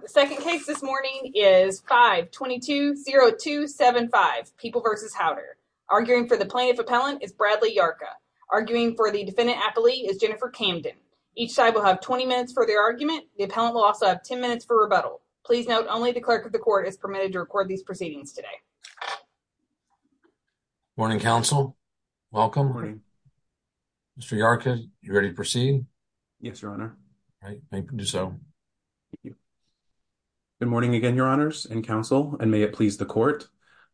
The second case this morning is 522-0275, People v. Howder. Arguing for the plaintiff appellant is Bradley Yarka. Arguing for the defendant appellee is Jennifer Camden. Each side will have 20 minutes for their argument. The appellant will also have 10 minutes for rebuttal. Please note, only the clerk of the court is permitted to record these proceedings today. Morning, counsel. Welcome. Mr. Yarka, you ready to proceed? Yes, your honor. Thank you, Joe. Good morning again, your honors and counsel, and may it please the court.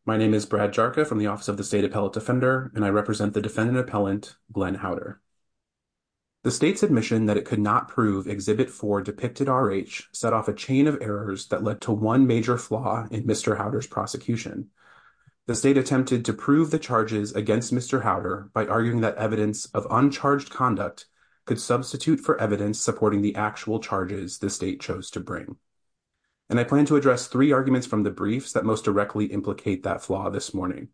My name is Brad Yarka from the Office of the State Appellate Defender, and I represent the defendant appellant, Glenn Howder. The state's admission that it could not prove Exhibit 4 depicted R.H. set off a chain of errors that led to one major flaw in Mr. Howder's prosecution. The state attempted to prove the charges against Mr. Howder by arguing that evidence of uncharged conduct could substitute for evidence supporting the actual charges the state chose to bring. And I plan to address three arguments from the briefs that most directly implicate that flaw this morning.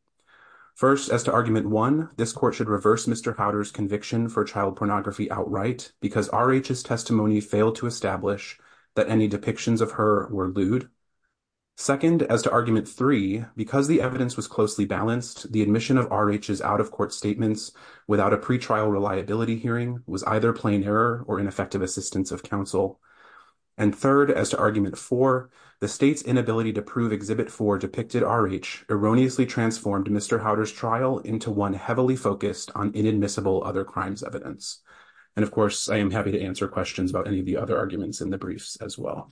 First, as to Argument 1, this court should reverse Mr. Howder's conviction for child pornography outright because R.H.'s testimony failed to establish that any depictions of her were lewd. Second, as to Argument 3, because the evidence was closely balanced, the admission of R.H.'s out-of-court statements without a pretrial reliability hearing was either plain error or ineffective assistance of counsel. And third, as to Argument 4, the state's inability to prove Exhibit 4 depicted R.H. erroneously transformed Mr. Howder's trial into one heavily focused on inadmissible other crimes evidence. And of course, I am happy to answer questions about any of the other arguments in the briefs as well.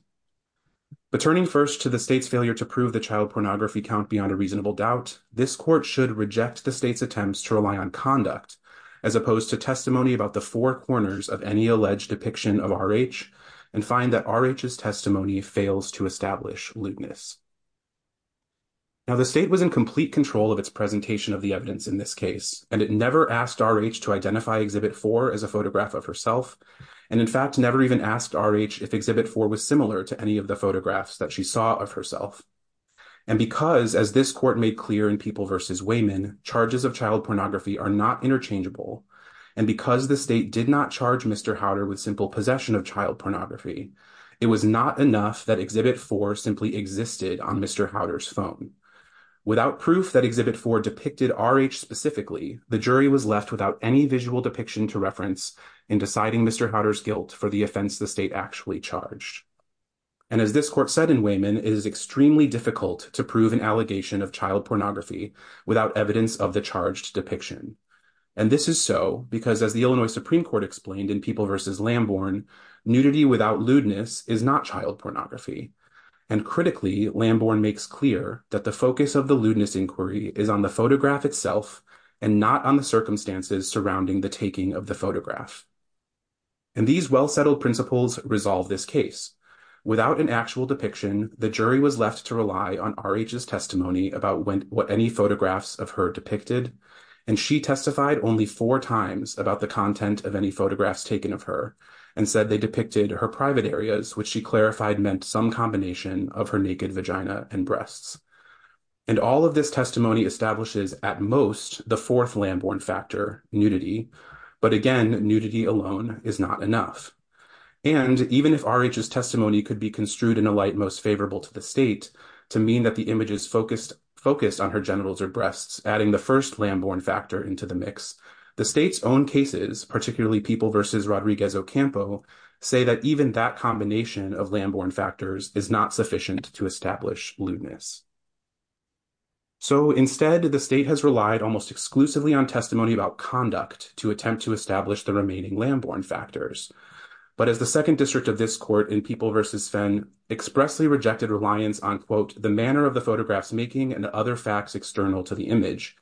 But turning first to the state's failure to prove the child pornography count beyond reasonable doubt, this court should reject the state's attempts to rely on conduct, as opposed to testimony about the four corners of any alleged depiction of R.H. and find that R.H.'s testimony fails to establish lewdness. Now, the state was in complete control of its presentation of the evidence in this case, and it never asked R.H. to identify Exhibit 4 as a photograph of herself, and in fact, never even asked R.H. if Exhibit 4 was similar to any of the photographs that she saw of herself. And because, as this court made clear in People v. Weyman, charges of child pornography are not interchangeable, and because the state did not charge Mr. Howder with simple possession of child pornography, it was not enough that Exhibit 4 simply existed on Mr. Howder's phone. Without proof that Exhibit 4 depicted R.H. specifically, the jury was left without any visual depiction to reference in deciding Mr. Howder's guilt for the offense the state actually charged. And as this court said in Weyman, it is extremely difficult to prove an allegation of child pornography without evidence of the charged depiction. And this is so because, as the Illinois Supreme Court explained in People v. Lamborn, nudity without lewdness is not child pornography. And critically, Lamborn makes clear that the focus of the lewdness inquiry is on the photograph itself and not on the circumstances surrounding the taking of the photograph. And these well-settled principles resolve this case. Without an actual depiction, the jury was left to rely on R.H.'s testimony about what any photographs of her depicted, and she testified only four times about the content of any photographs taken of her, and said they depicted her private areas, which she clarified meant some combination of her naked vagina and breasts. And all of this testimony establishes, at most, the fourth Lamborn factor, nudity. But again, nudity alone is not enough. And even if R.H.'s testimony could be construed in a light most favorable to the state, to mean that the images focused on her genitals or breasts, adding the first Lamborn factor into the mix, the state's own cases, particularly People v. Rodriguez Ocampo, say that even that combination of Lamborn factors is not sufficient to establish lewdness. So instead, the state has relied almost exclusively on testimony about conduct to attempt to establish the remaining Lamborn factors. But as the Second District of this court in People v. Sven expressly rejected reliance on, quote, the manner of the photographs making and other facts external to the image,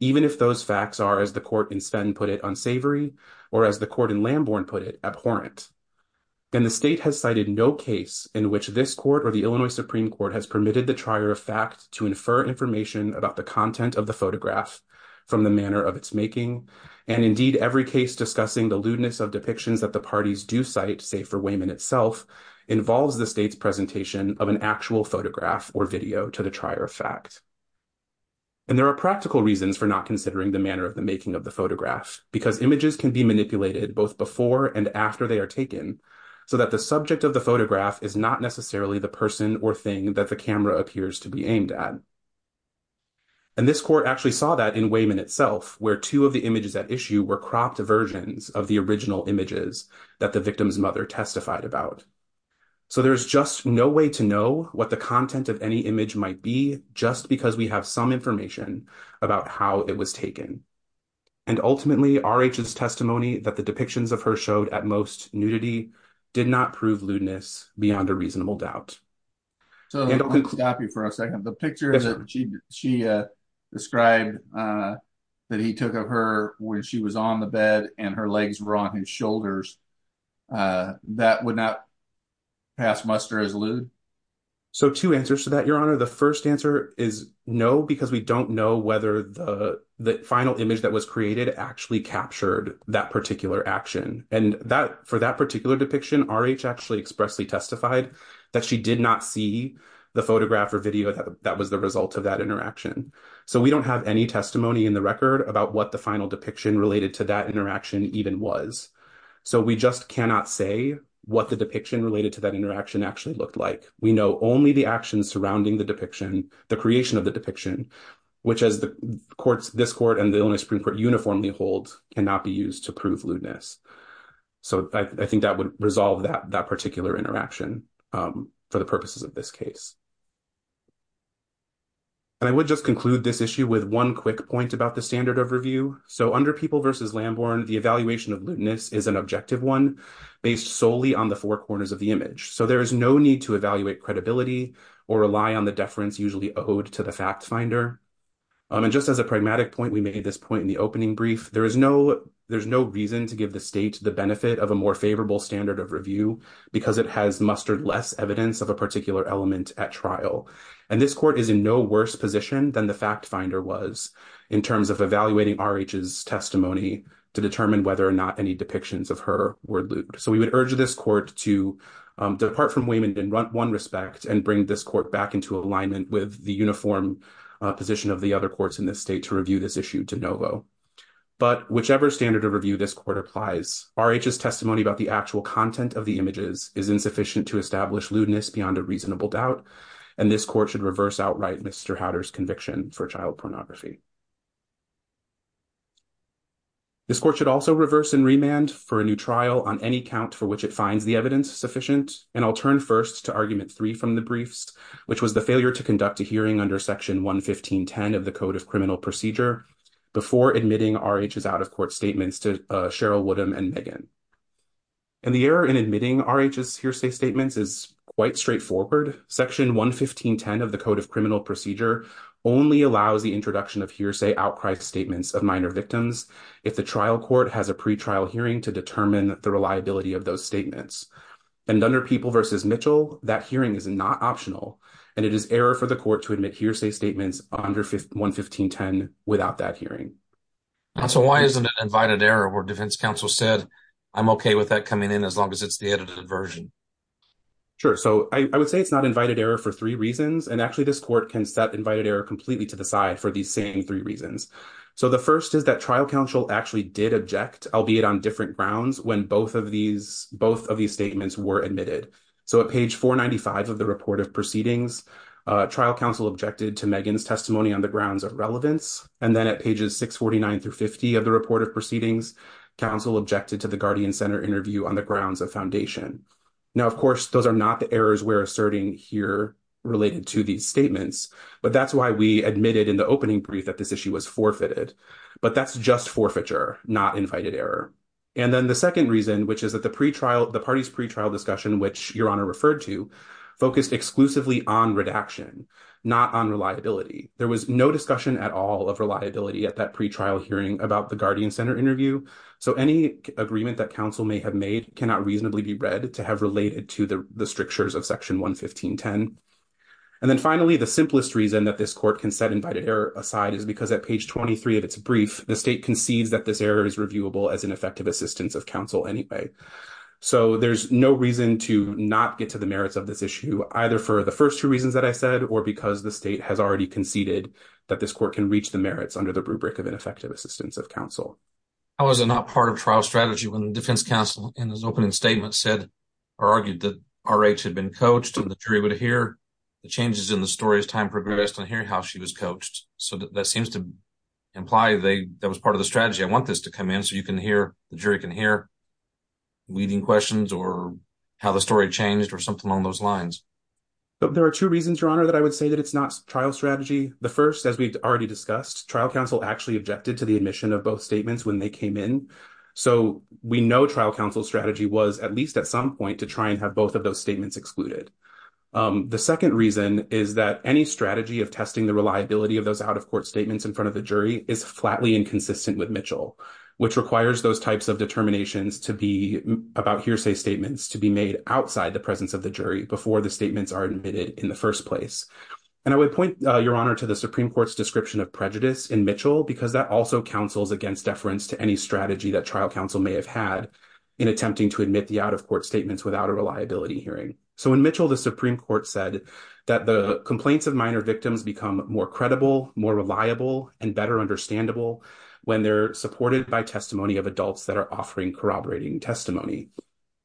even if those facts are, as the court in Sven put it, unsavory, or as the court in Lamborn put it, abhorrent. And the state has cited no case in which this court or the Illinois Supreme Court has permitted the trier of fact to infer information about the content of the photograph from the manner of its making. And indeed, every case discussing the lewdness of depictions that the parties do cite, say for Wayman itself, involves the state's presentation of an actual photograph or video to the trier of fact. And there are practical reasons for not considering the manner of the making of the photograph, because images can be manipulated both before and after they are taken, so that the subject of the photograph is not necessarily the person or thing that the camera appears to be aimed at. And this court actually saw that in Wayman itself, where two of the images at issue were cropped versions of the original images that the victim's mother testified about. So there is just no way to know what the content of any image might be, just because we have some information about how it was taken. And ultimately, R.H.'s testimony that the depictions of her showed at most nudity did not prove lewdness beyond a reasonable doubt. So let me stop you for a second. The picture that she described that he took of her when she was on the bed and her legs were on his shoulders, that would not pass muster as lewd? So two answers to that, Your Honor. The first answer is no, because we don't know whether the And for that particular depiction, R.H. actually expressly testified that she did not see the photograph or video that was the result of that interaction. So we don't have any testimony in the record about what the final depiction related to that interaction even was. So we just cannot say what the depiction related to that interaction actually looked like. We know only the actions surrounding the depiction, the creation of the depiction, which as this court and the Illinois to prove lewdness. So I think that would resolve that particular interaction for the purposes of this case. And I would just conclude this issue with one quick point about the standard of review. So under People v. Lamborn, the evaluation of lewdness is an objective one based solely on the four corners of the image. So there is no need to evaluate credibility or rely on the deference usually owed to the fact finder. And just as a pragmatic point, we made this point in the opening brief. There is no, there's no reason to give the state the benefit of a more favorable standard of review because it has mustered less evidence of a particular element at trial. And this court is in no worse position than the fact finder was in terms of evaluating R.H.'s testimony to determine whether or not any depictions of her were lewd. So we would urge this court to depart from Wayman in one respect and bring this court back into alignment with the But whichever standard of review this court applies, R.H.'s testimony about the actual content of the images is insufficient to establish lewdness beyond a reasonable doubt. And this court should reverse outright Mr. Hatter's conviction for child pornography. This court should also reverse and remand for a new trial on any count for which it finds the evidence sufficient. And I'll turn first to argument three from the briefs, which was the R.H.'s out-of-court statements to Cheryl Woodham and Megan. And the error in admitting R.H.'s hearsay statements is quite straightforward. Section 115.10 of the Code of Criminal Procedure only allows the introduction of hearsay outcry statements of minor victims if the trial court has a pre-trial hearing to determine the reliability of those statements. And under People v. Mitchell, that hearing is not optional. And it is error for the court to admit hearsay statements under 115.10 without that hearing. So why isn't it invited error where defense counsel said, I'm okay with that coming in as long as it's the edited version? Sure. So I would say it's not invited error for three reasons. And actually, this court can set invited error completely to the side for these same three reasons. So the first is that trial counsel actually did object, albeit on different grounds, when both of these statements were admitted. So at page 495 of the report of proceedings, trial counsel objected to Megan's testimony on the grounds of relevance. And then at pages 649 through 50 of the report of proceedings, counsel objected to the Guardian Center interview on the grounds of foundation. Now, of course, those are not the errors we're asserting here related to these statements. But that's why we admitted in the opening brief that this issue was forfeited. But that's just forfeiture, not invited error. And then the second reason, which is that the not on reliability. There was no discussion at all of reliability at that pre-trial hearing about the Guardian Center interview. So any agreement that counsel may have made cannot reasonably be read to have related to the strictures of section 11510. And then finally, the simplest reason that this court can set invited error aside is because at page 23 of its brief, the state concedes that this error is reviewable as an effective assistance of counsel anyway. So there's no reason to not get to the merits of this issue, either for the first two reasons that I said or because the state has already conceded that this court can reach the merits under the rubric of ineffective assistance of counsel. How is it not part of trial strategy when the defense counsel in his opening statement said or argued that RH had been coached and the jury would hear the changes in the story as time progressed on hearing how she was coached. So that seems to imply that was part of the strategy. I want this to come in so you can hear, the jury can hear, leading questions or how the story changed or something along those lines. There are two reasons, Your Honor, that I would say that it's not trial strategy. The first, as we've already discussed, trial counsel actually objected to the admission of both statements when they came in. So we know trial counsel strategy was at least at some point to try and have both of those statements excluded. The second reason is that any strategy of testing the reliability of those out-of-court statements in front of the jury is flatly inconsistent with Mitchell, which requires those types of determinations to be about hearsay statements to be made outside the presence of the jury before the statements are admitted in the first place. And I would point, Your Honor, to the Supreme Court's description of prejudice in Mitchell because that also counsels against deference to any strategy that trial counsel may have had in attempting to admit the out-of-court statements without a reliability hearing. So in Mitchell, the Supreme Court said that the complaints of minor victims become more credible, more reliable, and better understandable when they're supported by testimony of adults that are offering corroborating testimony.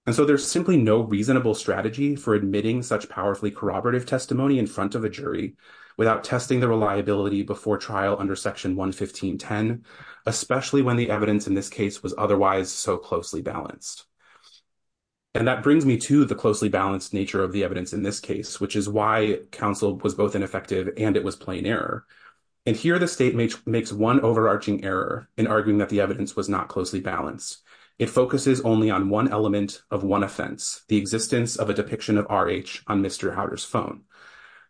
And so there's simply no reasonable strategy for admitting such powerfully corroborative testimony in front of a jury without testing the reliability before trial under Section 115.10, especially when the evidence in this case was otherwise so closely balanced. And that brings me to the closely balanced nature of the evidence in this case, which is why counsel was both ineffective and it was plain error. And here the state makes one overarching error in arguing that the evidence was not closely balanced. It focuses only on one element of one offense, the existence of a depiction of R.H. on Mr. Howder's phone.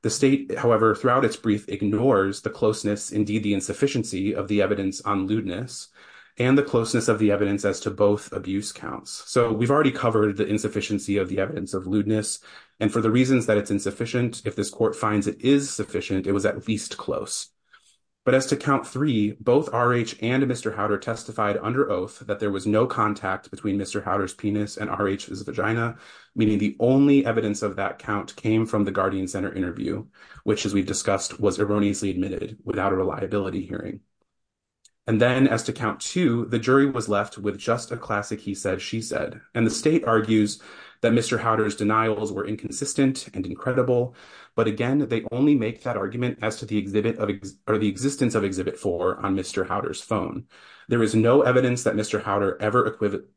The state, however, throughout its brief ignores the closeness, indeed the insufficiency, of the evidence on lewdness and the closeness of the evidence as to both abuse counts. So we've already covered the insufficiency of the evidence of lewdness, and for the reasons that it's both R.H. and Mr. Howder testified under oath that there was no contact between Mr. Howder's penis and R.H.'s vagina, meaning the only evidence of that count came from the Guardian Center interview, which as we've discussed was erroneously admitted without a reliability hearing. And then as to count two, the jury was left with just a classic he said, she said, and the state argues that Mr. Howder's denials were inconsistent and incredible. But again, they only make that argument as to the existence of exhibit four on Mr. Howder's phone. There is no evidence that Mr. Howder ever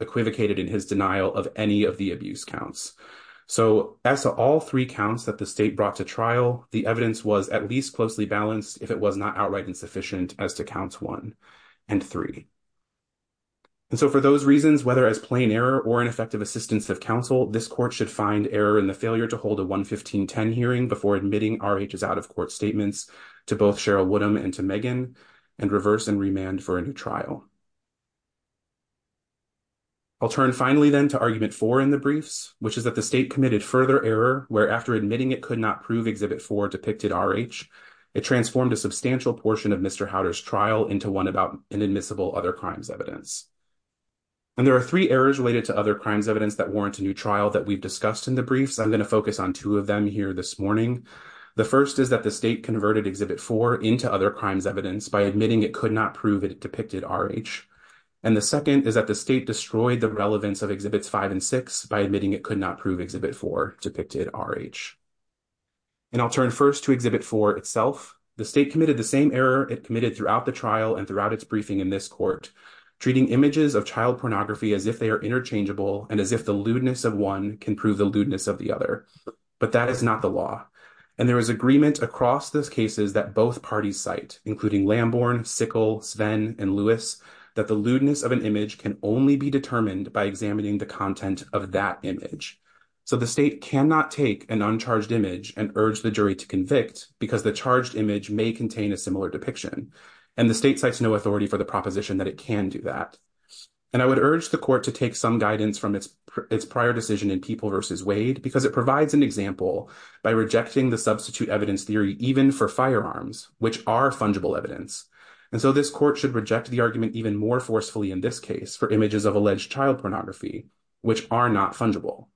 equivocated in his denial of any of the abuse counts. So as to all three counts that the state brought to trial, the evidence was at least closely balanced if it was not outright insufficient as to counts one and three. And so for those reasons, whether as plain error or ineffective assistance of counsel, this court should find error in the failure to R.H.'s out-of-court statements to both Cheryl Woodham and to Megan and reverse and remand for a new trial. I'll turn finally then to argument four in the briefs, which is that the state committed further error where after admitting it could not prove exhibit four depicted R.H., it transformed a substantial portion of Mr. Howder's trial into one about inadmissible other crimes evidence. And there are three errors related to other crimes evidence that warrant a new trial that we've on two of them here this morning. The first is that the state converted exhibit four into other crimes evidence by admitting it could not prove it depicted R.H. And the second is that the state destroyed the relevance of exhibits five and six by admitting it could not prove exhibit four depicted R.H. And I'll turn first to exhibit four itself. The state committed the same error it committed throughout the trial and throughout its briefing in this court, treating images of child pornography as if they are interchangeable and as if the lewdness of one can prove the lewdness of the other. But that is not the law. And there is agreement across those cases that both parties cite, including Lamborn, Sickle, Sven, and Lewis, that the lewdness of an image can only be determined by examining the content of that image. So the state cannot take an uncharged image and urge the jury to convict because the charged image may contain a similar depiction. And the state cites no authority for the proposition that it can do that. And I would urge the court to take some guidance from its prior decision in People v. Wade because it provides an example by rejecting the substitute evidence theory even for firearms, which are fungible evidence. And so this court should reject the argument even more forcefully in this case for images of alleged child pornography, which are not fungible.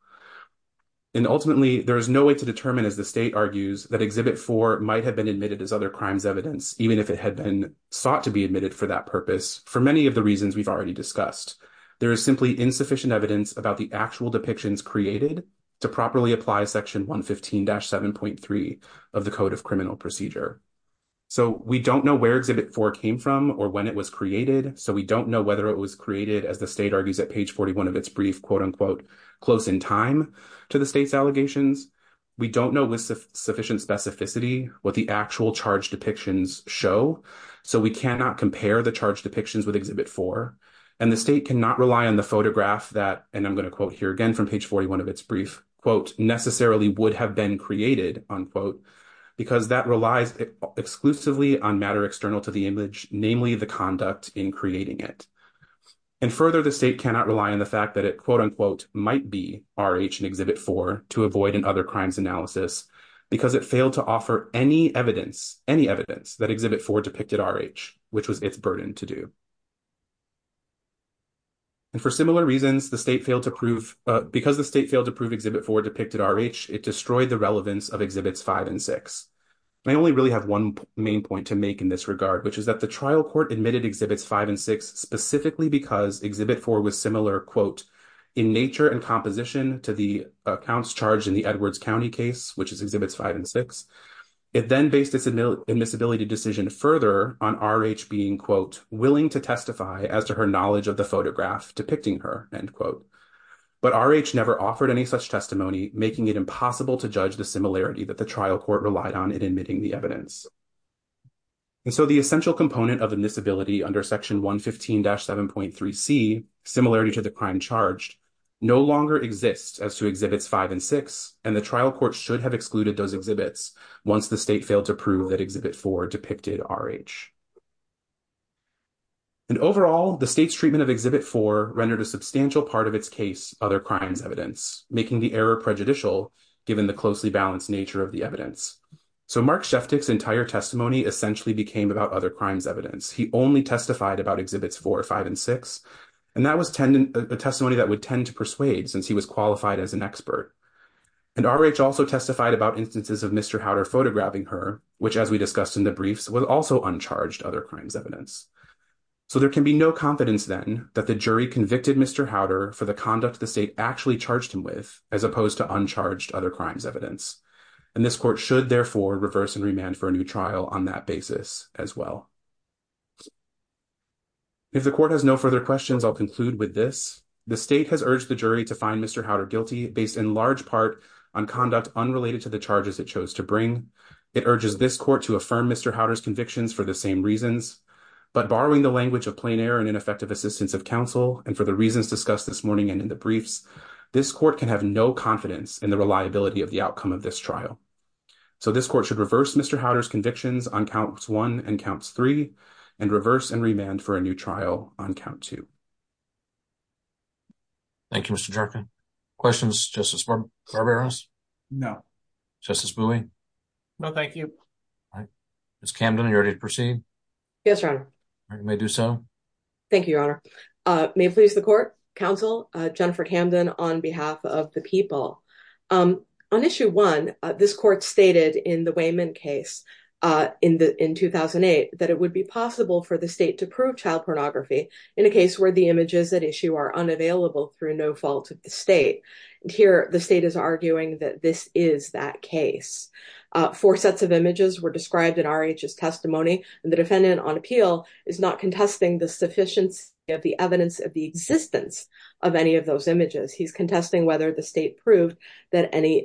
And ultimately, there is no way to determine, as the state argues, that exhibit four might have been admitted as other crimes evidence, even if it had been sought to be admitted for that purpose, for many of the reasons we've already discussed. There is simply insufficient evidence about the actual depictions created to properly apply section 115-7.3 of the Code of Criminal Procedure. So we don't know where exhibit four came from or when it was created, so we don't know whether it was created, as the state argues at page 41 of its brief quote-unquote close in time to the state's allegations. We don't know with sufficient specificity what the actual charged depictions show, so we cannot compare the charged depictions with exhibit four, and the state cannot rely on the photograph that, and I'm going to quote here again from page 41 of its brief quote, necessarily would have been created unquote, because that relies exclusively on matter external to the image, namely the conduct in creating it. And further, the state cannot rely on the fact that it quote-unquote might be RH in exhibit four to avoid in other crimes analysis, because it failed to offer any evidence, any evidence that exhibit four depicted RH, which was its burden to do. And for similar reasons, the state failed to prove, because the state failed to prove exhibit four depicted RH, it destroyed the relevance of exhibits five and six. I only really have one main point to make in this regard, which is that the trial court admitted exhibits five and six specifically because exhibit four was similar quote, in nature and composition to the accounts charged in the Edwards County case, which is exhibits five and six. It then based its admissibility decision further on RH being quote, willing to testify as to her knowledge of the photograph depicting her end quote. But RH never offered any such testimony, making it impossible to judge the similarity that the trial court relied on in admitting the evidence. And so the essential component of admissibility under section 115-7.3c, similarity to the crime charged, no longer exists as to exhibits five and six, and the trial court should have excluded those once the state failed to prove that exhibit four depicted RH. And overall, the state's treatment of exhibit four rendered a substantial part of its case, other crimes evidence, making the error prejudicial, given the closely balanced nature of the evidence. So Mark Sheftick's entire testimony essentially became about other crimes evidence. He only testified about exhibits four, five, and six. And that was a testimony that would tend to persuade since he was qualified as an expert. And RH also testified about instances of Mr. Howder photographing her, which as we discussed in the briefs was also uncharged other crimes evidence. So there can be no confidence then that the jury convicted Mr. Howder for the conduct the state actually charged him with, as opposed to uncharged other crimes evidence. And this court should therefore reverse and remand for a new trial on that basis as well. If the court has no further questions, I'll conclude with this. The state has urged the jury to find Mr. Howder guilty based in large part on conduct unrelated to the charges it chose to bring. It urges this court to affirm Mr. Howder's convictions for the same reasons, but borrowing the language of plain air and ineffective assistance of counsel and for the reasons discussed this morning and in the briefs, this court can have no confidence in the reliability of the outcome of this trial. So this court should reverse Mr. Howder's convictions on counts one and counts three and reverse and remand for a new trial on count two. Thank you, Mr. Jerken. Questions, Justice Barberos? No. Justice Bowie? No, thank you. Ms. Camden, are you ready to proceed? Yes, Your Honor. You may do so. Thank you, Your Honor. May it please the court, counsel, Jennifer Camden on behalf of the people. On issue one, this court stated in the Wayman case in 2008 that it would be possible for the state to prove child pornography in a case where the images at issue are unavailable through no fault of the state. And here the state is arguing that this is that case. Four sets of images were described in R.H.'s testimony and the defendant on appeal is not contesting the sufficiency of the evidence of the existence of any of those images. He's contesting whether the state proved that any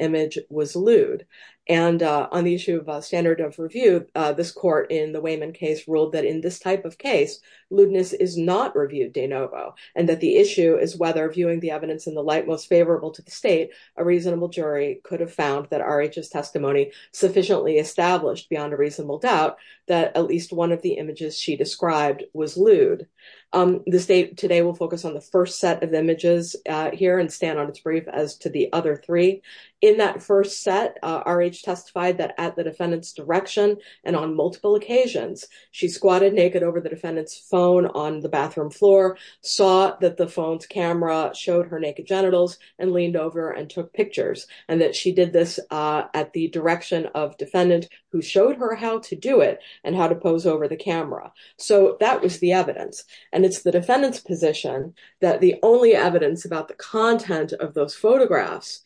was lewd. And on the issue of standard of review, this court in the Wayman case ruled that in this type of case, lewdness is not reviewed de novo and that the issue is whether viewing the evidence in the light most favorable to the state, a reasonable jury could have found that R.H.'s testimony sufficiently established beyond a reasonable doubt that at least one of the images she described was lewd. The state today will focus on the first set of images here and on its brief as to the other three. In that first set, R.H. testified that at the defendant's direction and on multiple occasions, she squatted naked over the defendant's phone on the bathroom floor, saw that the phone's camera showed her naked genitals and leaned over and took pictures and that she did this at the direction of defendant who showed her how to do it and how to pose over the camera. So that was the evidence. And it's the defendant's position that the only evidence about the content of those photographs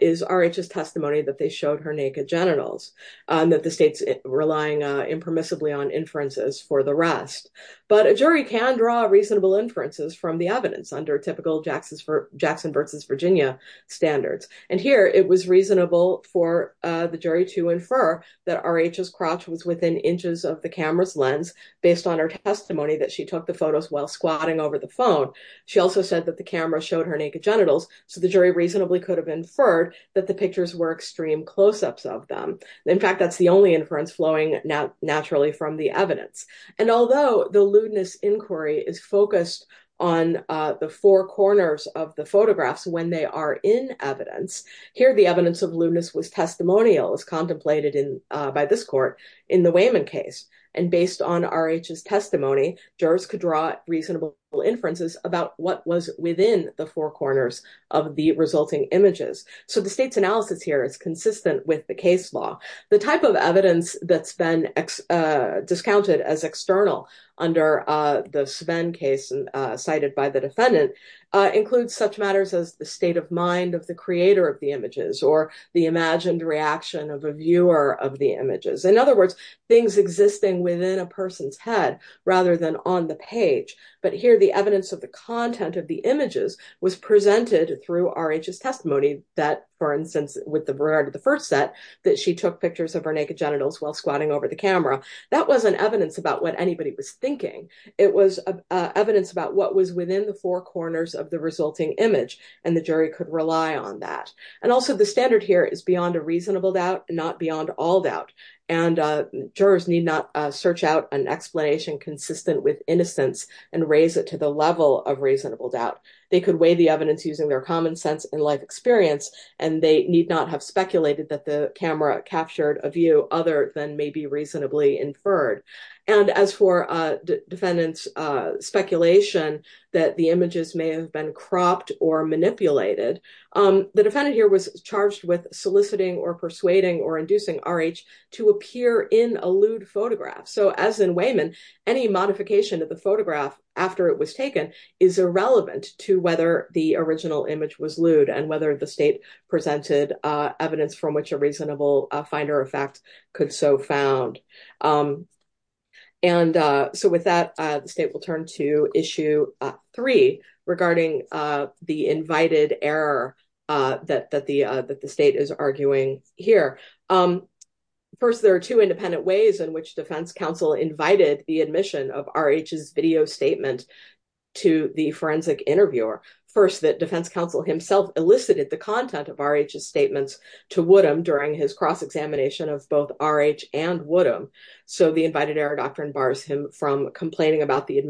is R.H.'s testimony that they showed her naked genitals and that the state's relying impermissibly on inferences for the rest. But a jury can draw reasonable inferences from the evidence under typical Jackson versus Virginia standards. And here it was reasonable for the jury to infer that R.H.'s crotch was within inches of the camera's lens based on her testimony that she took the photos while squatting over the phone. She also said that the camera showed her naked genitals. So the jury reasonably could have inferred that the pictures were extreme close-ups of them. In fact, that's the only inference flowing naturally from the evidence. And although the lewdness inquiry is focused on the four corners of the photographs when they are in evidence, here the evidence of lewdness was testimonial as contemplated by this court in the Wayman case. And based on R.H.'s testimony, jurors could draw reasonable inferences about what was within the four corners of the resulting images. So the state's analysis here is consistent with the case law. The type of evidence that's been discounted as external under the Sven case cited by the defendant includes such matters as the state of mind of the creator of the images or the imagined reaction of a viewer of the images. In on the page. But here the evidence of the content of the images was presented through R.H.'s testimony that, for instance, with regard to the first set, that she took pictures of her naked genitals while squatting over the camera. That wasn't evidence about what anybody was thinking. It was evidence about what was within the four corners of the resulting image. And the jury could rely on that. And also the standard here is beyond a reasonable doubt, not beyond all doubt. And jurors need not search out an explanation consistent with innocence and raise it to the level of reasonable doubt. They could weigh the evidence using their common sense and life experience, and they need not have speculated that the camera captured a view other than maybe reasonably inferred. And as for defendant's speculation that the images may have been cropped or manipulated, the defendant here charged with soliciting or persuading or inducing R.H. to appear in a lewd photograph. So as in Wayman, any modification of the photograph after it was taken is irrelevant to whether the original image was lewd and whether the state presented evidence from which a reasonable finder of fact could so found. And so with that, the state will turn to issue three regarding the invited error that the state is arguing here. First, there are two independent ways in which defense counsel invited the admission of R.H.'s video statement to the forensic interviewer. First, that defense counsel himself elicited the content of R.H.'s statements to Woodham during his cross-examination of both R.H. and Woodham. So the invited error doctrine bars him from complaining about the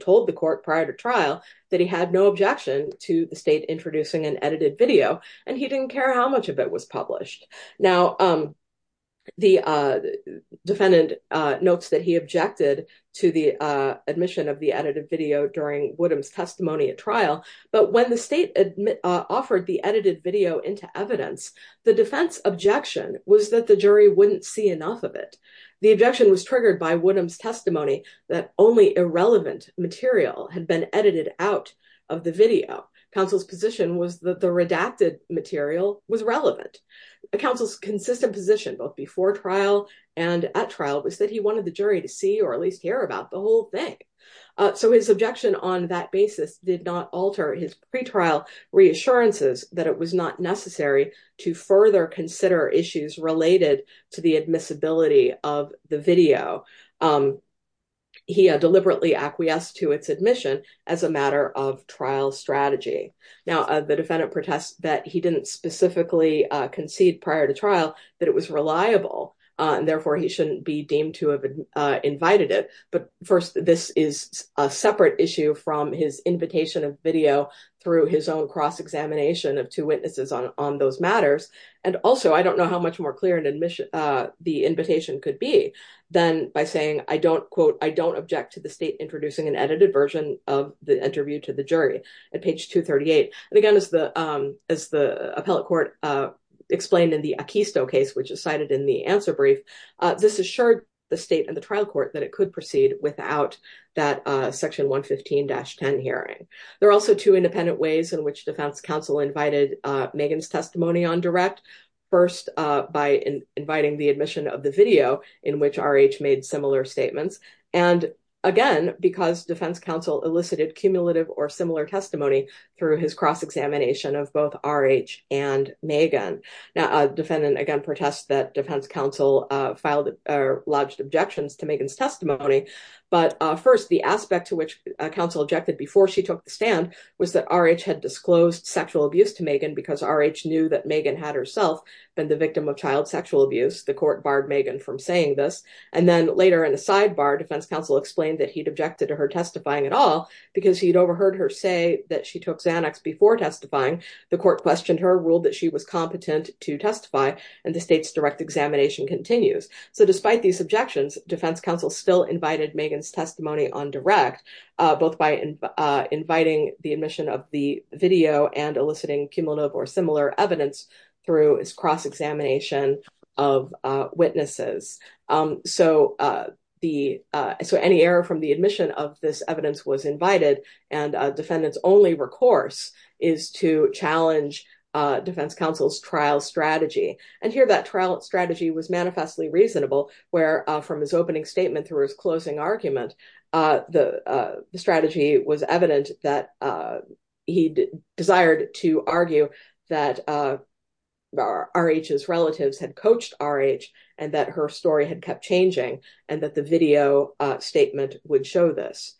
told the court prior to trial that he had no objection to the state introducing an edited video and he didn't care how much of it was published. Now, the defendant notes that he objected to the admission of the edited video during Woodham's testimony at trial, but when the state offered the edited video into evidence, the defense objection was that the jury wouldn't see enough of it. The objection was triggered by Woodham's testimony that only irrelevant material had been edited out of the video. Counsel's position was that the redacted material was relevant. Counsel's consistent position, both before trial and at trial, was that he wanted the jury to see or at least hear about the whole thing. So his objection on that basis did not alter his pretrial reassurances that it was not necessary to further consider issues related to the admissibility of the video. He deliberately acquiesced to its admission as a matter of trial strategy. Now, the defendant protests that he didn't specifically concede prior to trial that it was reliable and therefore he shouldn't be deemed to have invited it. But first, this is a separate issue from his invitation of video through his own cross-examination of two witnesses on those matters. And also, I don't know how much more clear an admission, the invitation could be than by saying, I don't quote, I don't object to the state introducing an edited version of the interview to the jury at page 238. And again, as the appellate court explained in the Acquisto case, which is cited in the answer brief, this assured the state and the trial court that it could proceed without that section 115-10 hearing. There are also two independent ways in which defense counsel invited Megan's testimony on direct. First, by inviting the admission of the video in which R.H. made similar statements. And again, because defense counsel elicited cumulative or similar testimony through his cross-examination of both R.H. and Megan. Now, defendant again protests that defense counsel filed or lodged objections to Megan's testimony. But first, the Megan because R.H. knew that Megan had herself been the victim of child sexual abuse. The court barred Megan from saying this. And then later in the sidebar, defense counsel explained that he'd objected to her testifying at all because he'd overheard her say that she took Xanax before testifying. The court questioned her, ruled that she was competent to testify, and the state's direct examination continues. So despite these objections, defense counsel still invited Megan's video and eliciting cumulative or similar evidence through his cross-examination of witnesses. So any error from the admission of this evidence was invited, and defendant's only recourse is to challenge defense counsel's trial strategy. And here that trial strategy was manifestly reasonable, where from his opening statement through his closing argument, the strategy was evident that he desired to argue that R.H.'s relatives had coached R.H. and that her story had kept changing and that the video statement would show this.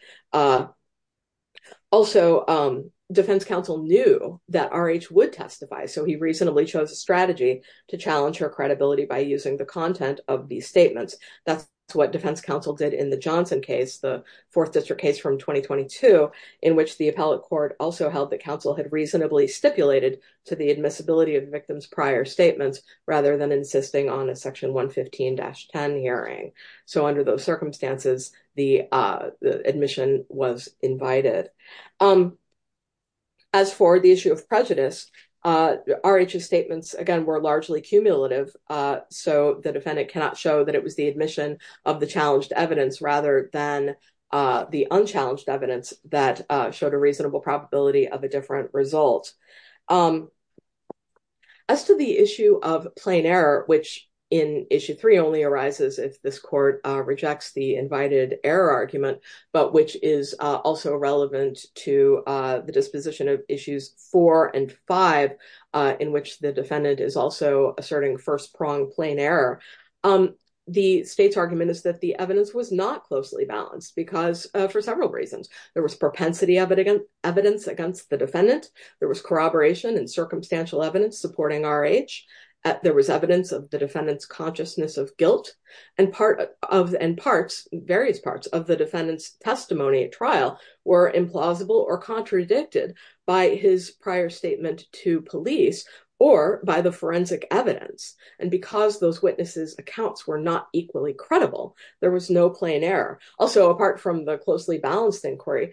Also, defense counsel knew that R.H. would testify, so he reasonably chose a strategy to challenge her credibility by using the content of these statements. That's what defense counsel did in the Johnson case, the fourth district case from 2022, in which the appellate court also held that counsel had reasonably stipulated to the admissibility of the victim's prior statements rather than insisting on a section 115-10 hearing. So under those circumstances, the admission was invited. As for the issue of prejudice, R.H.'s statements, again, were largely cumulative, so the defendant cannot show that it was the evidence that showed a reasonable probability of a different result. As to the issue of plain error, which in issue three only arises if this court rejects the invited error argument, but which is also relevant to the disposition of issues four and five, in which the defendant is also asserting first-prong plain error, the state's argument is that the evidence was not closely balanced for several reasons. There was propensity evidence against the defendant, there was corroboration and circumstantial evidence supporting R.H., there was evidence of the defendant's consciousness of guilt, and various parts of the defendant's testimony at trial were implausible or contradicted by his prior statement to police or by the forensic evidence. And because those witnesses' accounts were not equally credible, there was no plain error. Also, apart from the closely balanced inquiry,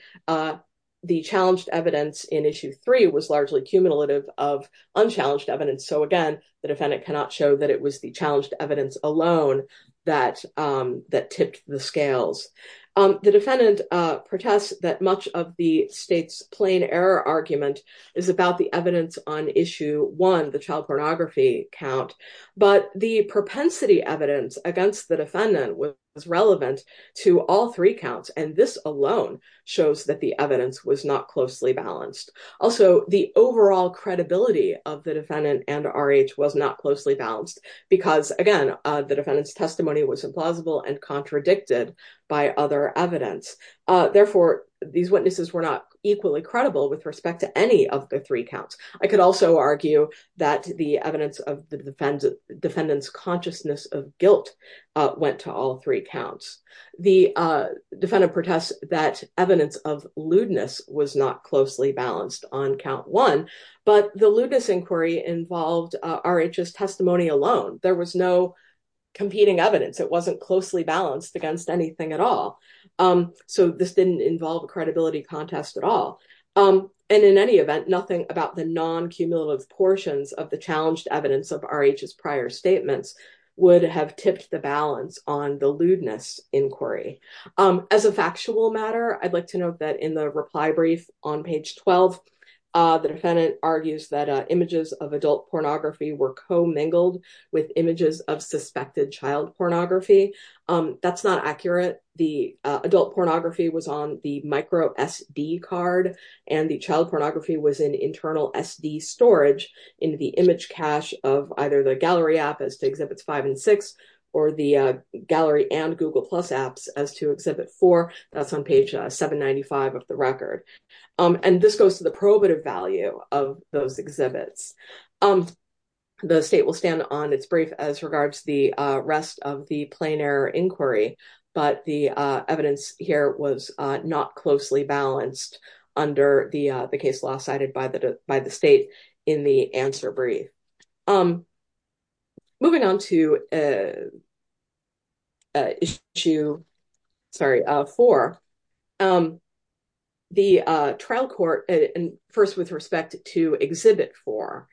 the challenged evidence in issue three was largely cumulative of unchallenged evidence, so again, the defendant cannot show that it was the challenged evidence alone that tipped the scales. The defendant protests that much of the state's argument is about the evidence on issue one, the child pornography count, but the propensity evidence against the defendant was relevant to all three counts, and this alone shows that the evidence was not closely balanced. Also, the overall credibility of the defendant and R.H. was not closely balanced, because again, the defendant's testimony was implausible and with respect to any of the three counts. I could also argue that the evidence of the defendant's consciousness of guilt went to all three counts. The defendant protests that evidence of lewdness was not closely balanced on count one, but the lewdness inquiry involved R.H.'s testimony alone, there was no competing evidence, it wasn't closely balanced against anything at all, so this didn't involve a credibility contest at all, and in any event, nothing about the non-cumulative portions of the challenged evidence of R.H.'s prior statements would have tipped the balance on the lewdness inquiry. As a factual matter, I'd like to note that in the reply brief on page 12, the defendant argues that images of adult pornography were co-mingled with images of suspected child pornography. That's not accurate, the adult pornography was on the micro SD card, and the child pornography was in internal SD storage in the image cache of either the gallery app as to exhibits five and six, or the gallery and google plus apps as to exhibit four, that's on page 795 of the record, and this goes to the prohibitive value of those exhibits. The state will stand on its brief as regards the rest of the plain error inquiry, but the evidence here was not closely balanced under the case law cited by the state in the answer brief. Moving on to issue, sorry, four, the trial court, and first with respect to exhibit four,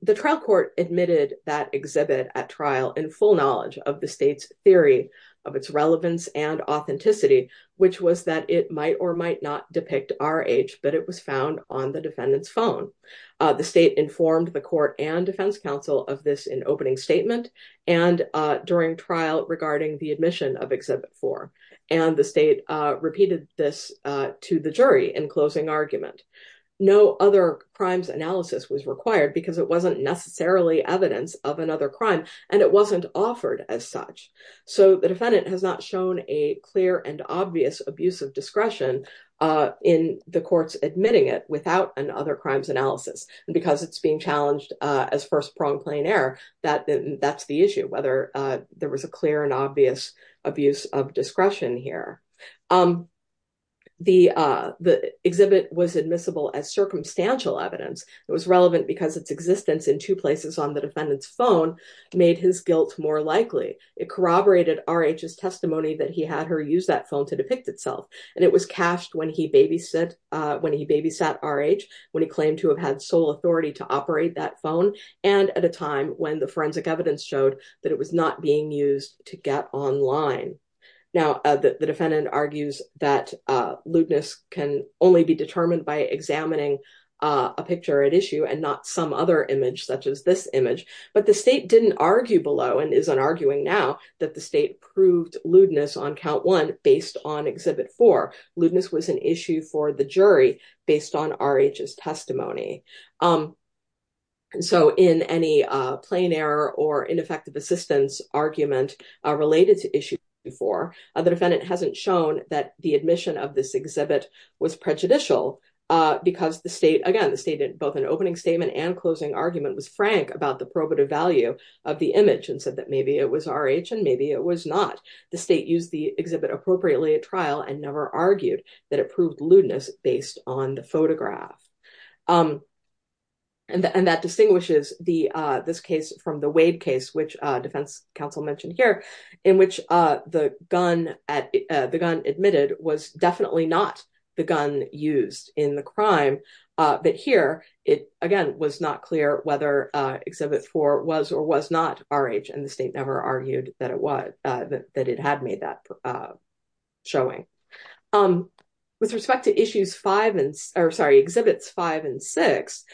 the trial court admitted that exhibit at trial in full knowledge of the state's theory of its relevance and authenticity, which was that it might or might not depict R.H., but it was found on the defendant's phone. The state informed the court and defense counsel of this in opening statement, and during trial regarding the admission of exhibit four, and the state repeated this to the jury in closing argument. No other crimes analysis was required because it wasn't necessarily evidence of another crime, and it wasn't offered as such, so the defendant has not shown a clear and obvious abuse of discretion in the courts admitting it without an other crimes analysis, because it's challenged as first prone plain error, that's the issue, whether there was a clear and obvious abuse of discretion here. The exhibit was admissible as circumstantial evidence. It was relevant because its existence in two places on the defendant's phone made his guilt more likely. It corroborated R.H.'s testimony that he had her use that phone to depict itself, and it was when he babysat R.H., when he claimed to have had sole authority to operate that phone, and at a time when the forensic evidence showed that it was not being used to get online. Now, the defendant argues that lewdness can only be determined by examining a picture at issue and not some other image such as this image, but the state didn't argue below, and isn't arguing now, that the state proved lewdness on count one based on exhibit four. Lewdness was an issue for the jury based on R.H.'s testimony, so in any plain error or ineffective assistance argument related to issue four, the defendant hasn't shown that the admission of this exhibit was prejudicial, because the state, again, the state did both an opening statement and closing argument was frank about the probative value of the image and said that maybe it was R.H. and maybe it was not. The state used the exhibit appropriately at trial and never argued that it proved lewdness based on the photograph, and that distinguishes this case from the Wade case, which defense counsel mentioned here, in which the gun admitted was definitely not the gun used in the crime, but here it, again, was not clear whether exhibit four was or was not R.H., and the state never argued that it was, that it had made that showing. With respect to issues five and, or sorry, exhibits five and six,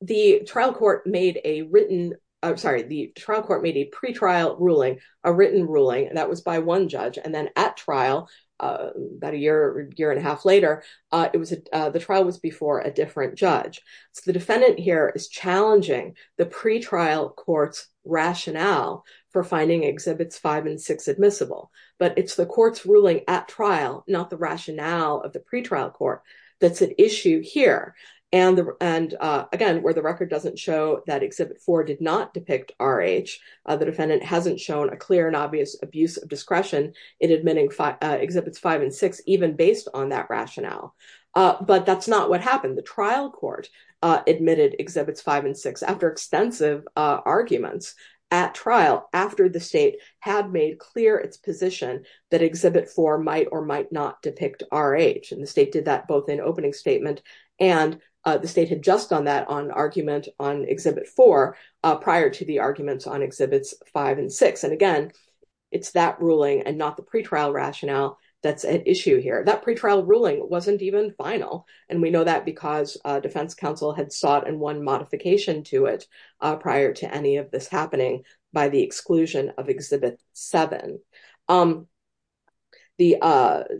the trial court made a written, I'm sorry, the trial court made a pre-trial ruling, a written ruling, and that was by one judge, and then at trial, about a year, year and a half later, it was, the trial was before a different judge, so the defendant here is challenging the pre-trial court's rationale for finding exhibits five and six admissible, but it's the court's ruling at trial, not the rationale of the pre-trial court, that's an issue here, and the, and again, where the record doesn't show that exhibit four did not depict R.H., the defendant hasn't shown a clear and obvious abuse of discretion in admitting exhibits five and six, even based on that rationale, but that's not what happened. The trial court admitted exhibits five and six after extensive arguments at trial, after the state had made clear its position that exhibit four might or might not depict R.H., and the state did that both in opening statement and the state had just done that on argument on exhibit four prior to the arguments on exhibits five and six, and again, it's that ruling and not the pre-trial rationale that's at issue here. That pre-trial ruling wasn't even final, and we know that because defense counsel had sought and won modification to it prior to any of this happening by the exclusion of exhibit seven. The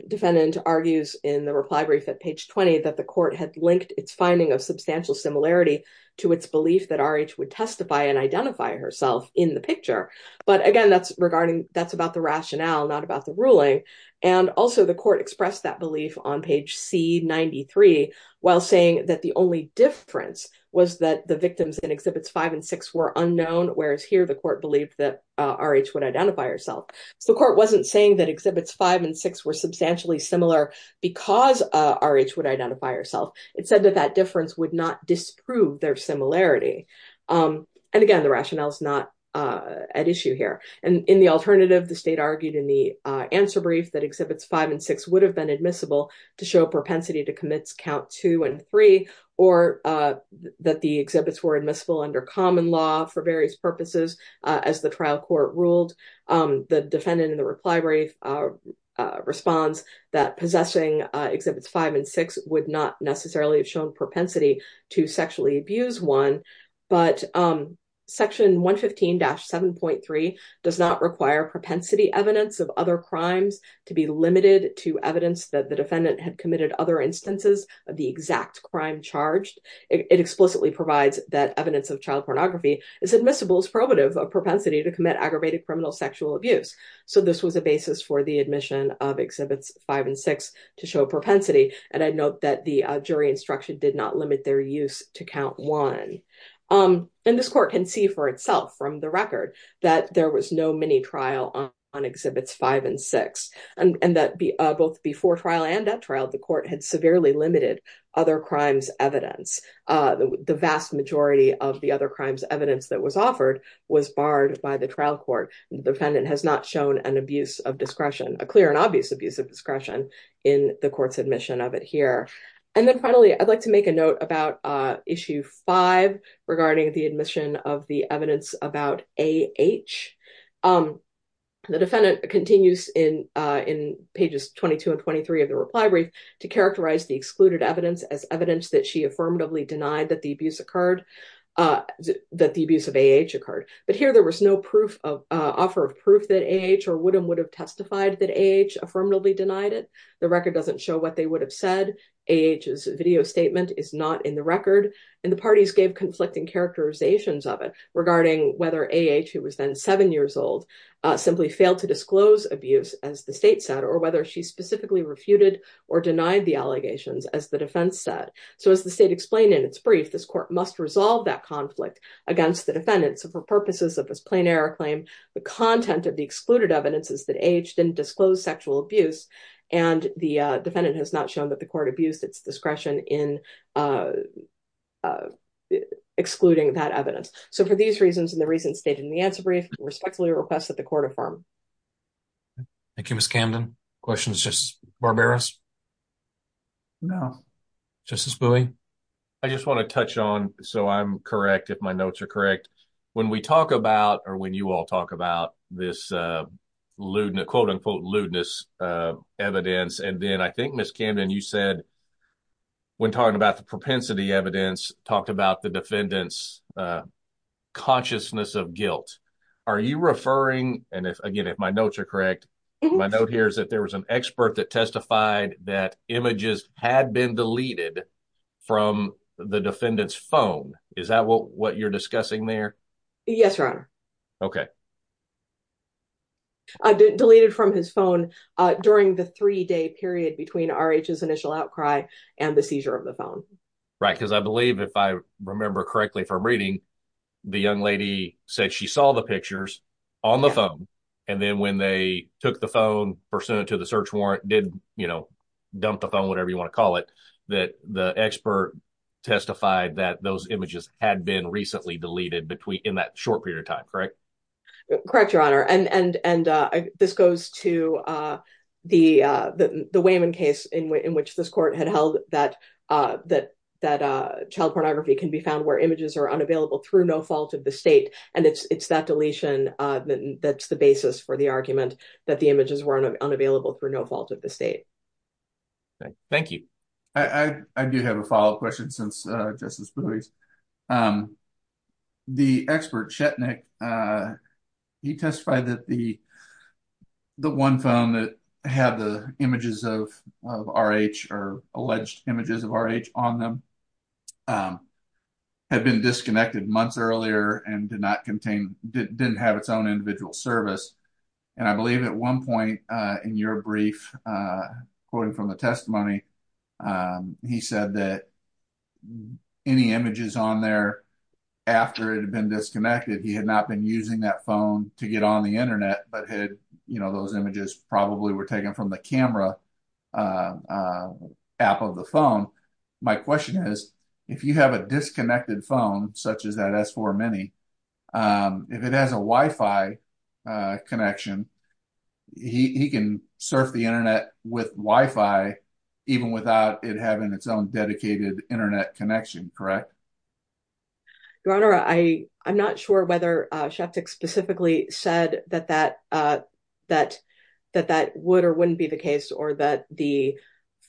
defendant argues in the reply brief at page 20 that the court had linked its finding of substantial similarity to its belief that R.H. would testify and identify herself in the picture, but again, that's regarding, that's about the rationale, not about the ruling, and also the court expressed that belief on page C93 while saying that the only difference was that the victims in exhibits five and six were unknown, whereas here the court believed that R.H. would identify herself. The court wasn't saying that exhibits five and six were substantially similar because R.H. would identify herself. It said that that difference would not disprove their similarity, and again, the rationale is not at issue here, and in the alternative, the state argued in the answer brief that exhibits five and six would have been admissible to show propensity to commits count two and three or that the exhibits were admissible under common law for various purposes. As the trial court ruled, the defendant in the reply brief responds that possessing exhibits five and six would not necessarily have shown propensity to sexually abuse one, but section 115-7.3 does not require propensity evidence of other crimes to be limited to evidence that the defendant had committed other instances of the exact crime charged. It explicitly provides that evidence of child pornography is admissible as probative of propensity to commit aggravated criminal sexual abuse, so this was a basis for the admission of exhibits five and six to show propensity, and I note that the jury instruction did not limit their use to count one, and this court can see for itself from the record that there was no mini-trial on exhibits five and six, and that both before trial and at trial, the court had severely limited other crimes' evidence. The vast majority of the other crimes' evidence that was offered was barred by the trial court. The defendant has not shown an abuse of discretion, a clear and obvious abuse of discretion, in the court's admission of it here. And then finally, I'd like to make a note about issue five regarding the admission of the evidence about A.H. The defendant continues in pages 22 and 23 of the reply brief to characterize the excluded evidence as evidence that she affirmatively denied that the abuse of A.H. occurred, but here there was no offer of proof that A.H. or Woodham would have testified that A.H. affirmatively denied it. The record doesn't show what they would have said. A.H.'s video statement is not in the record, and the parties gave conflicting characterizations of it regarding whether A.H., who was then seven years old, simply failed to or denied the allegations, as the defense said. So as the state explained in its brief, this court must resolve that conflict against the defendant. So for purposes of this plain error claim, the content of the excluded evidence is that A.H. didn't disclose sexual abuse, and the defendant has not shown that the court abused its discretion in excluding that evidence. So for these reasons and the reasons stated in the answer brief, I respectfully request that the court affirm. Thank you, Ms. Camden. Questions, Justice Barberos? No. Justice Bowie? I just want to touch on, so I'm correct if my notes are correct, when we talk about or when you all talk about this lewdness, quote-unquote lewdness, evidence, and then I think, Ms. Camden, you said when talking about the propensity evidence, talked about the defendant's consciousness of guilt. Are you referring, and again, if my notes are correct, my note here is that there was an expert that testified that images had been deleted from the defendant's phone. Is that what you're discussing there? Yes, Your Honor. Okay. Deleted from his phone during the three-day period between R.H.'s initial outcry and the seizure of the phone. Right, because I believe, if I said she saw the pictures on the phone and then when they took the phone, presented it to the search warrant, did, you know, dump the phone, whatever you want to call it, that the expert testified that those images had been recently deleted between in that short period of time, correct? Correct, Your Honor, and this goes to the Wayman case in which this court had held that child pornography can be found where images are unavailable through no fault of the state, and it's that deletion that's the basis for the argument that the images were unavailable through no fault of the state. Thank you. I do have a follow-up question since Justice Buies. The expert, Shetnik, he testified that the one phone that had the images of R.H. or alleged images of R.H. on them had been disconnected months earlier and did not contain, didn't have its own individual service, and I believe at one point in your brief, quoting from the testimony, he said that any images on there after it had been disconnected, he had not been using that phone to get on the internet, but had, you know, those images probably were taken from the camera app of the phone. My question is, if you have a disconnected phone such as that S4 Mini, if it has a Wi-Fi connection, he can surf the internet with Wi-Fi even without it having its own dedicated internet connection, correct? Your Honor, I'm not sure whether Shetnik specifically said that that would or wouldn't be the case, or that the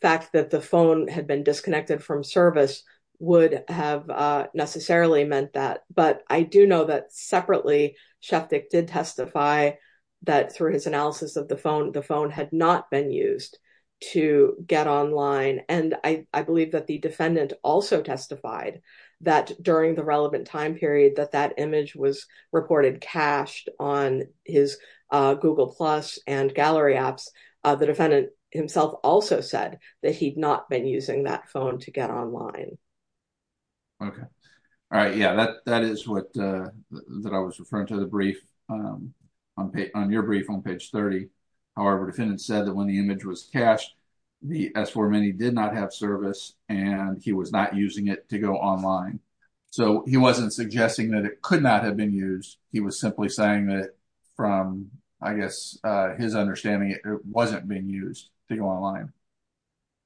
fact that the phone had been disconnected from service would have necessarily meant that, but I do know that separately Shetnik did testify that through his analysis of the phone, the phone had not been used to get online, and I believe that the defendant also testified that during the reported cached on his Google Plus and gallery apps, the defendant himself also said that he'd not been using that phone to get online. Okay, all right, yeah, that is what, that I was referring to the brief, on your brief on page 30. However, defendant said that when the image was cached, the S4 Mini did not have service, and he was not using it to go online, so he wasn't suggesting that it could not have been used, he was simply saying that from, I guess, his understanding it wasn't being used to go online.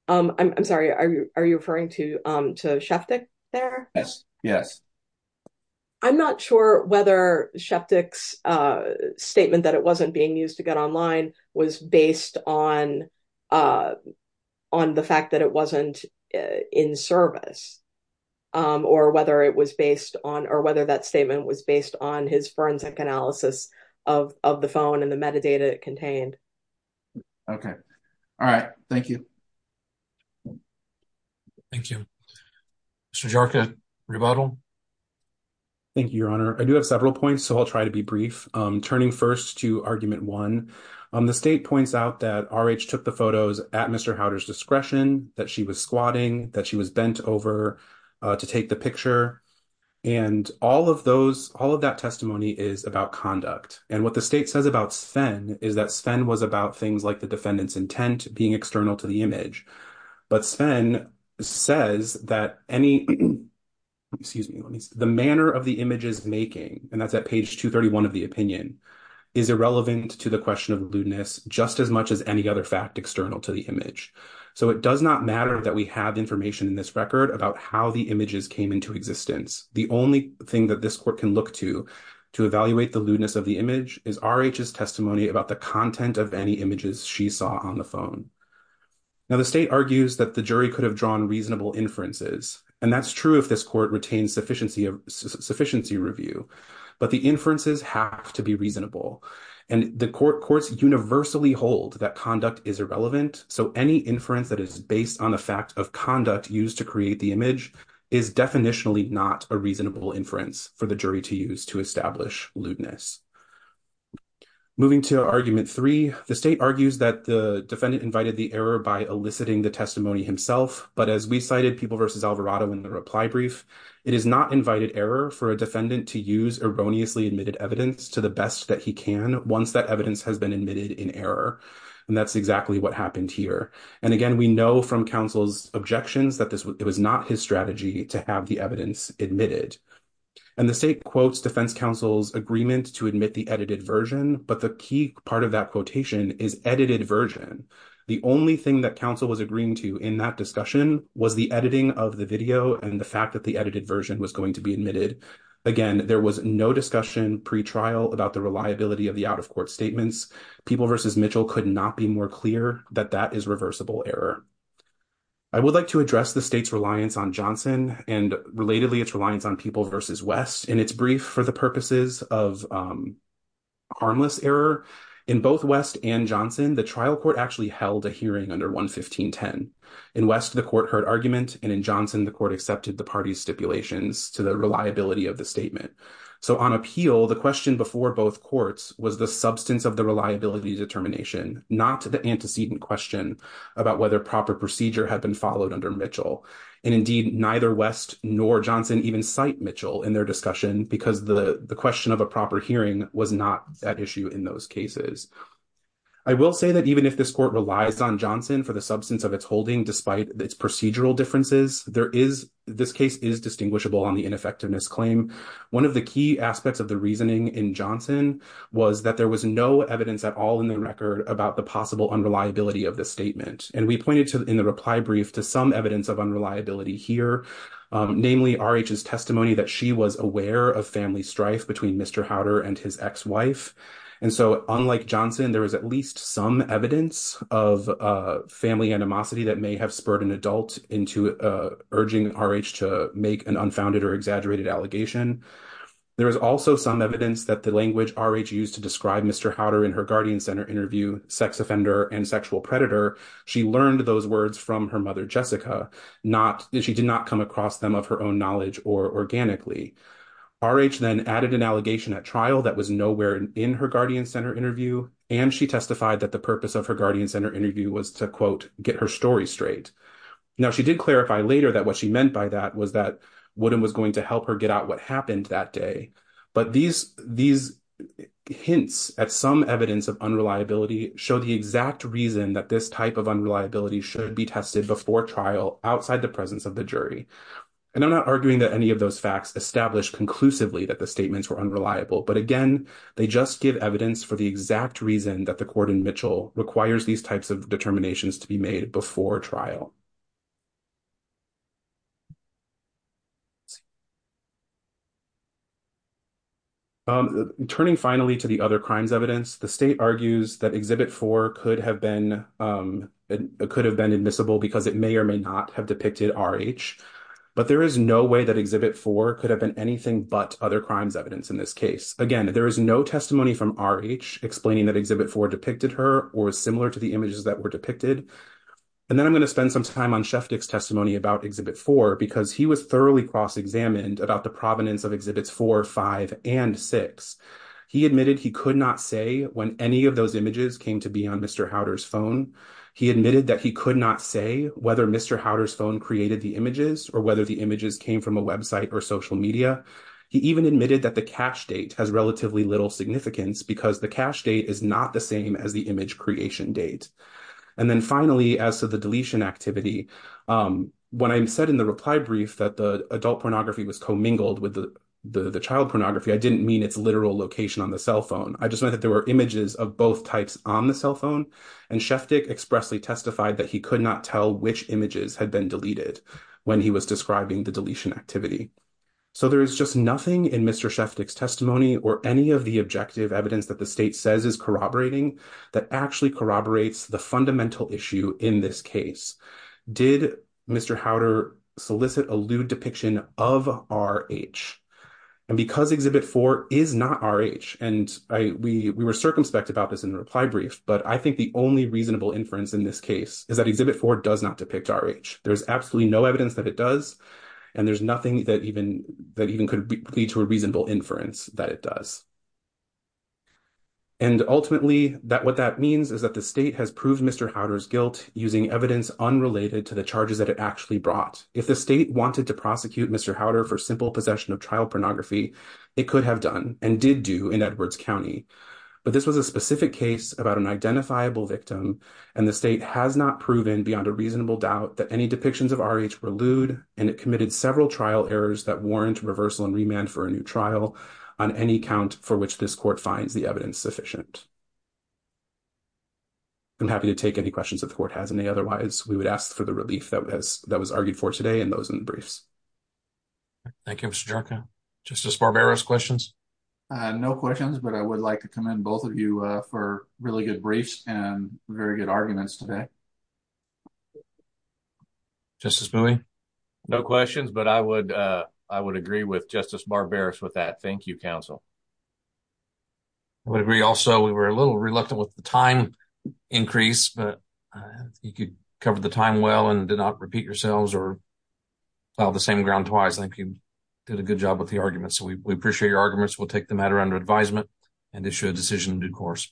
I'm sorry, are you referring to Shetnik there? Yes, yes. I'm not sure whether Shetnik's statement that it wasn't being used to get online was based on on the fact that it wasn't in service, or whether it was based on, or whether that statement was based on his forensic analysis of the phone and the metadata it contained. Okay, all right, thank you. Thank you. Mr. Jarka, rebuttal? Thank you, your honor. I do have several points, so I'll try to be at Mr. Howder's discretion, that she was squatting, that she was bent over to take the picture, and all of those, all of that testimony is about conduct, and what the state says about Sven is that Sven was about things like the defendant's intent being external to the image, but Sven says that any, excuse me, the manner of the image's making, and that's at page 231 of the opinion, is irrelevant to the question of lewdness just as much as any other fact external to the image, so it does not matter that we have information in this record about how the images came into existence. The only thing that this court can look to to evaluate the lewdness of the image is RH's testimony about the content of any images she saw on the phone. Now, the state argues that the jury could have drawn reasonable inferences, and that's true if this court retains sufficiency review, but the inferences have to be reasonable, and the courts universally hold that conduct is irrelevant, so any inference that is based on the fact of conduct used to create the image is definitionally not a reasonable inference for the jury to use to establish lewdness. Moving to argument three, the state argues that the defendant invited the error by eliciting the testimony himself, but as we cited, People v. Alvarado in the reply brief, it is not invited error for a defendant to use erroneously admitted evidence to the best that he can once that and that's exactly what happened here, and again, we know from counsel's objections that this was not his strategy to have the evidence admitted, and the state quotes defense counsel's agreement to admit the edited version, but the key part of that quotation is edited version. The only thing that counsel was agreeing to in that discussion was the editing of the video and the fact that the edited version was going to be admitted. Again, there was no discussion pre-trial about the reliability of the out-of-court statements. People v. Mitchell could not be more clear that that is reversible error. I would like to address the state's reliance on Johnson and, relatedly, its reliance on People v. West in its brief for the purposes of harmless error. In both West and Johnson, the trial court actually held a hearing under 11510. In West, the court heard argument, and in Johnson, the court accepted the party's stipulations to the reliability of the statement, so on appeal, the question before both courts was the substance of the reliability determination, not the antecedent question about whether proper procedure had been followed under Mitchell, and indeed, neither West nor Johnson even cite Mitchell in their discussion because the question of a proper hearing was not that issue in those cases. I will say that even if this court relies on Johnson for the substance of its holding despite its procedural differences, this case is distinguishable on the ineffectiveness claim. One of the key aspects of the reasoning in Johnson was that there was no evidence at all in the record about the possible unreliability of the statement, and we pointed in the reply brief to some evidence of unreliability here, namely RH's testimony that she was aware of family strife between Mr. Howder and his ex-wife, and so unlike Johnson, there is at least some evidence of family animosity that may have made an unfounded or exaggerated allegation. There is also some evidence that the language RH used to describe Mr. Howder in her Guardian Center interview, sex offender and sexual predator, she learned those words from her mother Jessica. She did not come across them of her own knowledge or organically. RH then added an allegation at trial that was nowhere in her Guardian Center interview, and she testified that the purpose of her Guardian Center interview was to get her story straight. Now, she did clarify later that what she meant by that was that Woodham was going to help her get out what happened that day, but these hints at some evidence of unreliability show the exact reason that this type of unreliability should be tested before trial outside the presence of the jury, and I'm not arguing that any of those facts established conclusively that the statements were unreliable, but again, they just give evidence for exact reason that the court in Mitchell requires these types of determinations to be made before trial. Turning finally to the other crimes evidence, the state argues that Exhibit 4 could have been admissible because it may or may not have depicted RH, but there is no way that Exhibit 4 could have been anything but other crimes evidence in this case. Again, there is no explaining that Exhibit 4 depicted her or similar to the images that were depicted, and then I'm going to spend some time on Sheftick's testimony about Exhibit 4 because he was thoroughly cross-examined about the provenance of Exhibits 4, 5, and 6. He admitted he could not say when any of those images came to be on Mr. Howder's phone. He admitted that he could not say whether Mr. Howder's phone created the images or whether the images came from a website or social media. He even admitted that the cache date has relatively little significance because the cache date is not the same as the image creation date. And then finally, as to the deletion activity, when I said in the reply brief that the adult pornography was commingled with the child pornography, I didn't mean its literal location on the cell phone. I just meant that there were images of both types on the cell phone, and Sheftick expressly testified that he could not tell which images had been deleted when he was describing the deletion activity. So there is just is corroborating that actually corroborates the fundamental issue in this case. Did Mr. Howder solicit a lewd depiction of RH? And because Exhibit 4 is not RH, and we were circumspect about this in the reply brief, but I think the only reasonable inference in this case is that Exhibit 4 does not depict RH. There's absolutely no evidence that it does, and there's nothing that even could lead to a reasonable inference that it does. And ultimately, what that means is that the state has proved Mr. Howder's guilt using evidence unrelated to the charges that it actually brought. If the state wanted to prosecute Mr. Howder for simple possession of trial pornography, it could have done and did do in Edwards County. But this was a specific case about an identifiable victim, and the state has not proven beyond a reasonable doubt that any depictions of RH were lewd, and it committed several trial errors that warrant reversal and remand for a new trial on any count for which this court finds the evidence sufficient. I'm happy to take any questions if the court has any. Otherwise, we would ask for the relief that was argued for today and those in the briefs. Thank you, Mr. Jericho. Justice Barbera, questions? No questions, but I would like to commend both of you for really good briefs and very good arguments today. Justice Bowie? No questions, but I would agree with Justice Barbera with that. Thank you, counsel. I would agree also. We were a little reluctant with the time increase, but you covered the time well and did not repeat yourselves or filed the same ground twice. I think you did a good job with the arguments, so we appreciate your arguments. We'll take the matter under advisement and issue a decision in due course.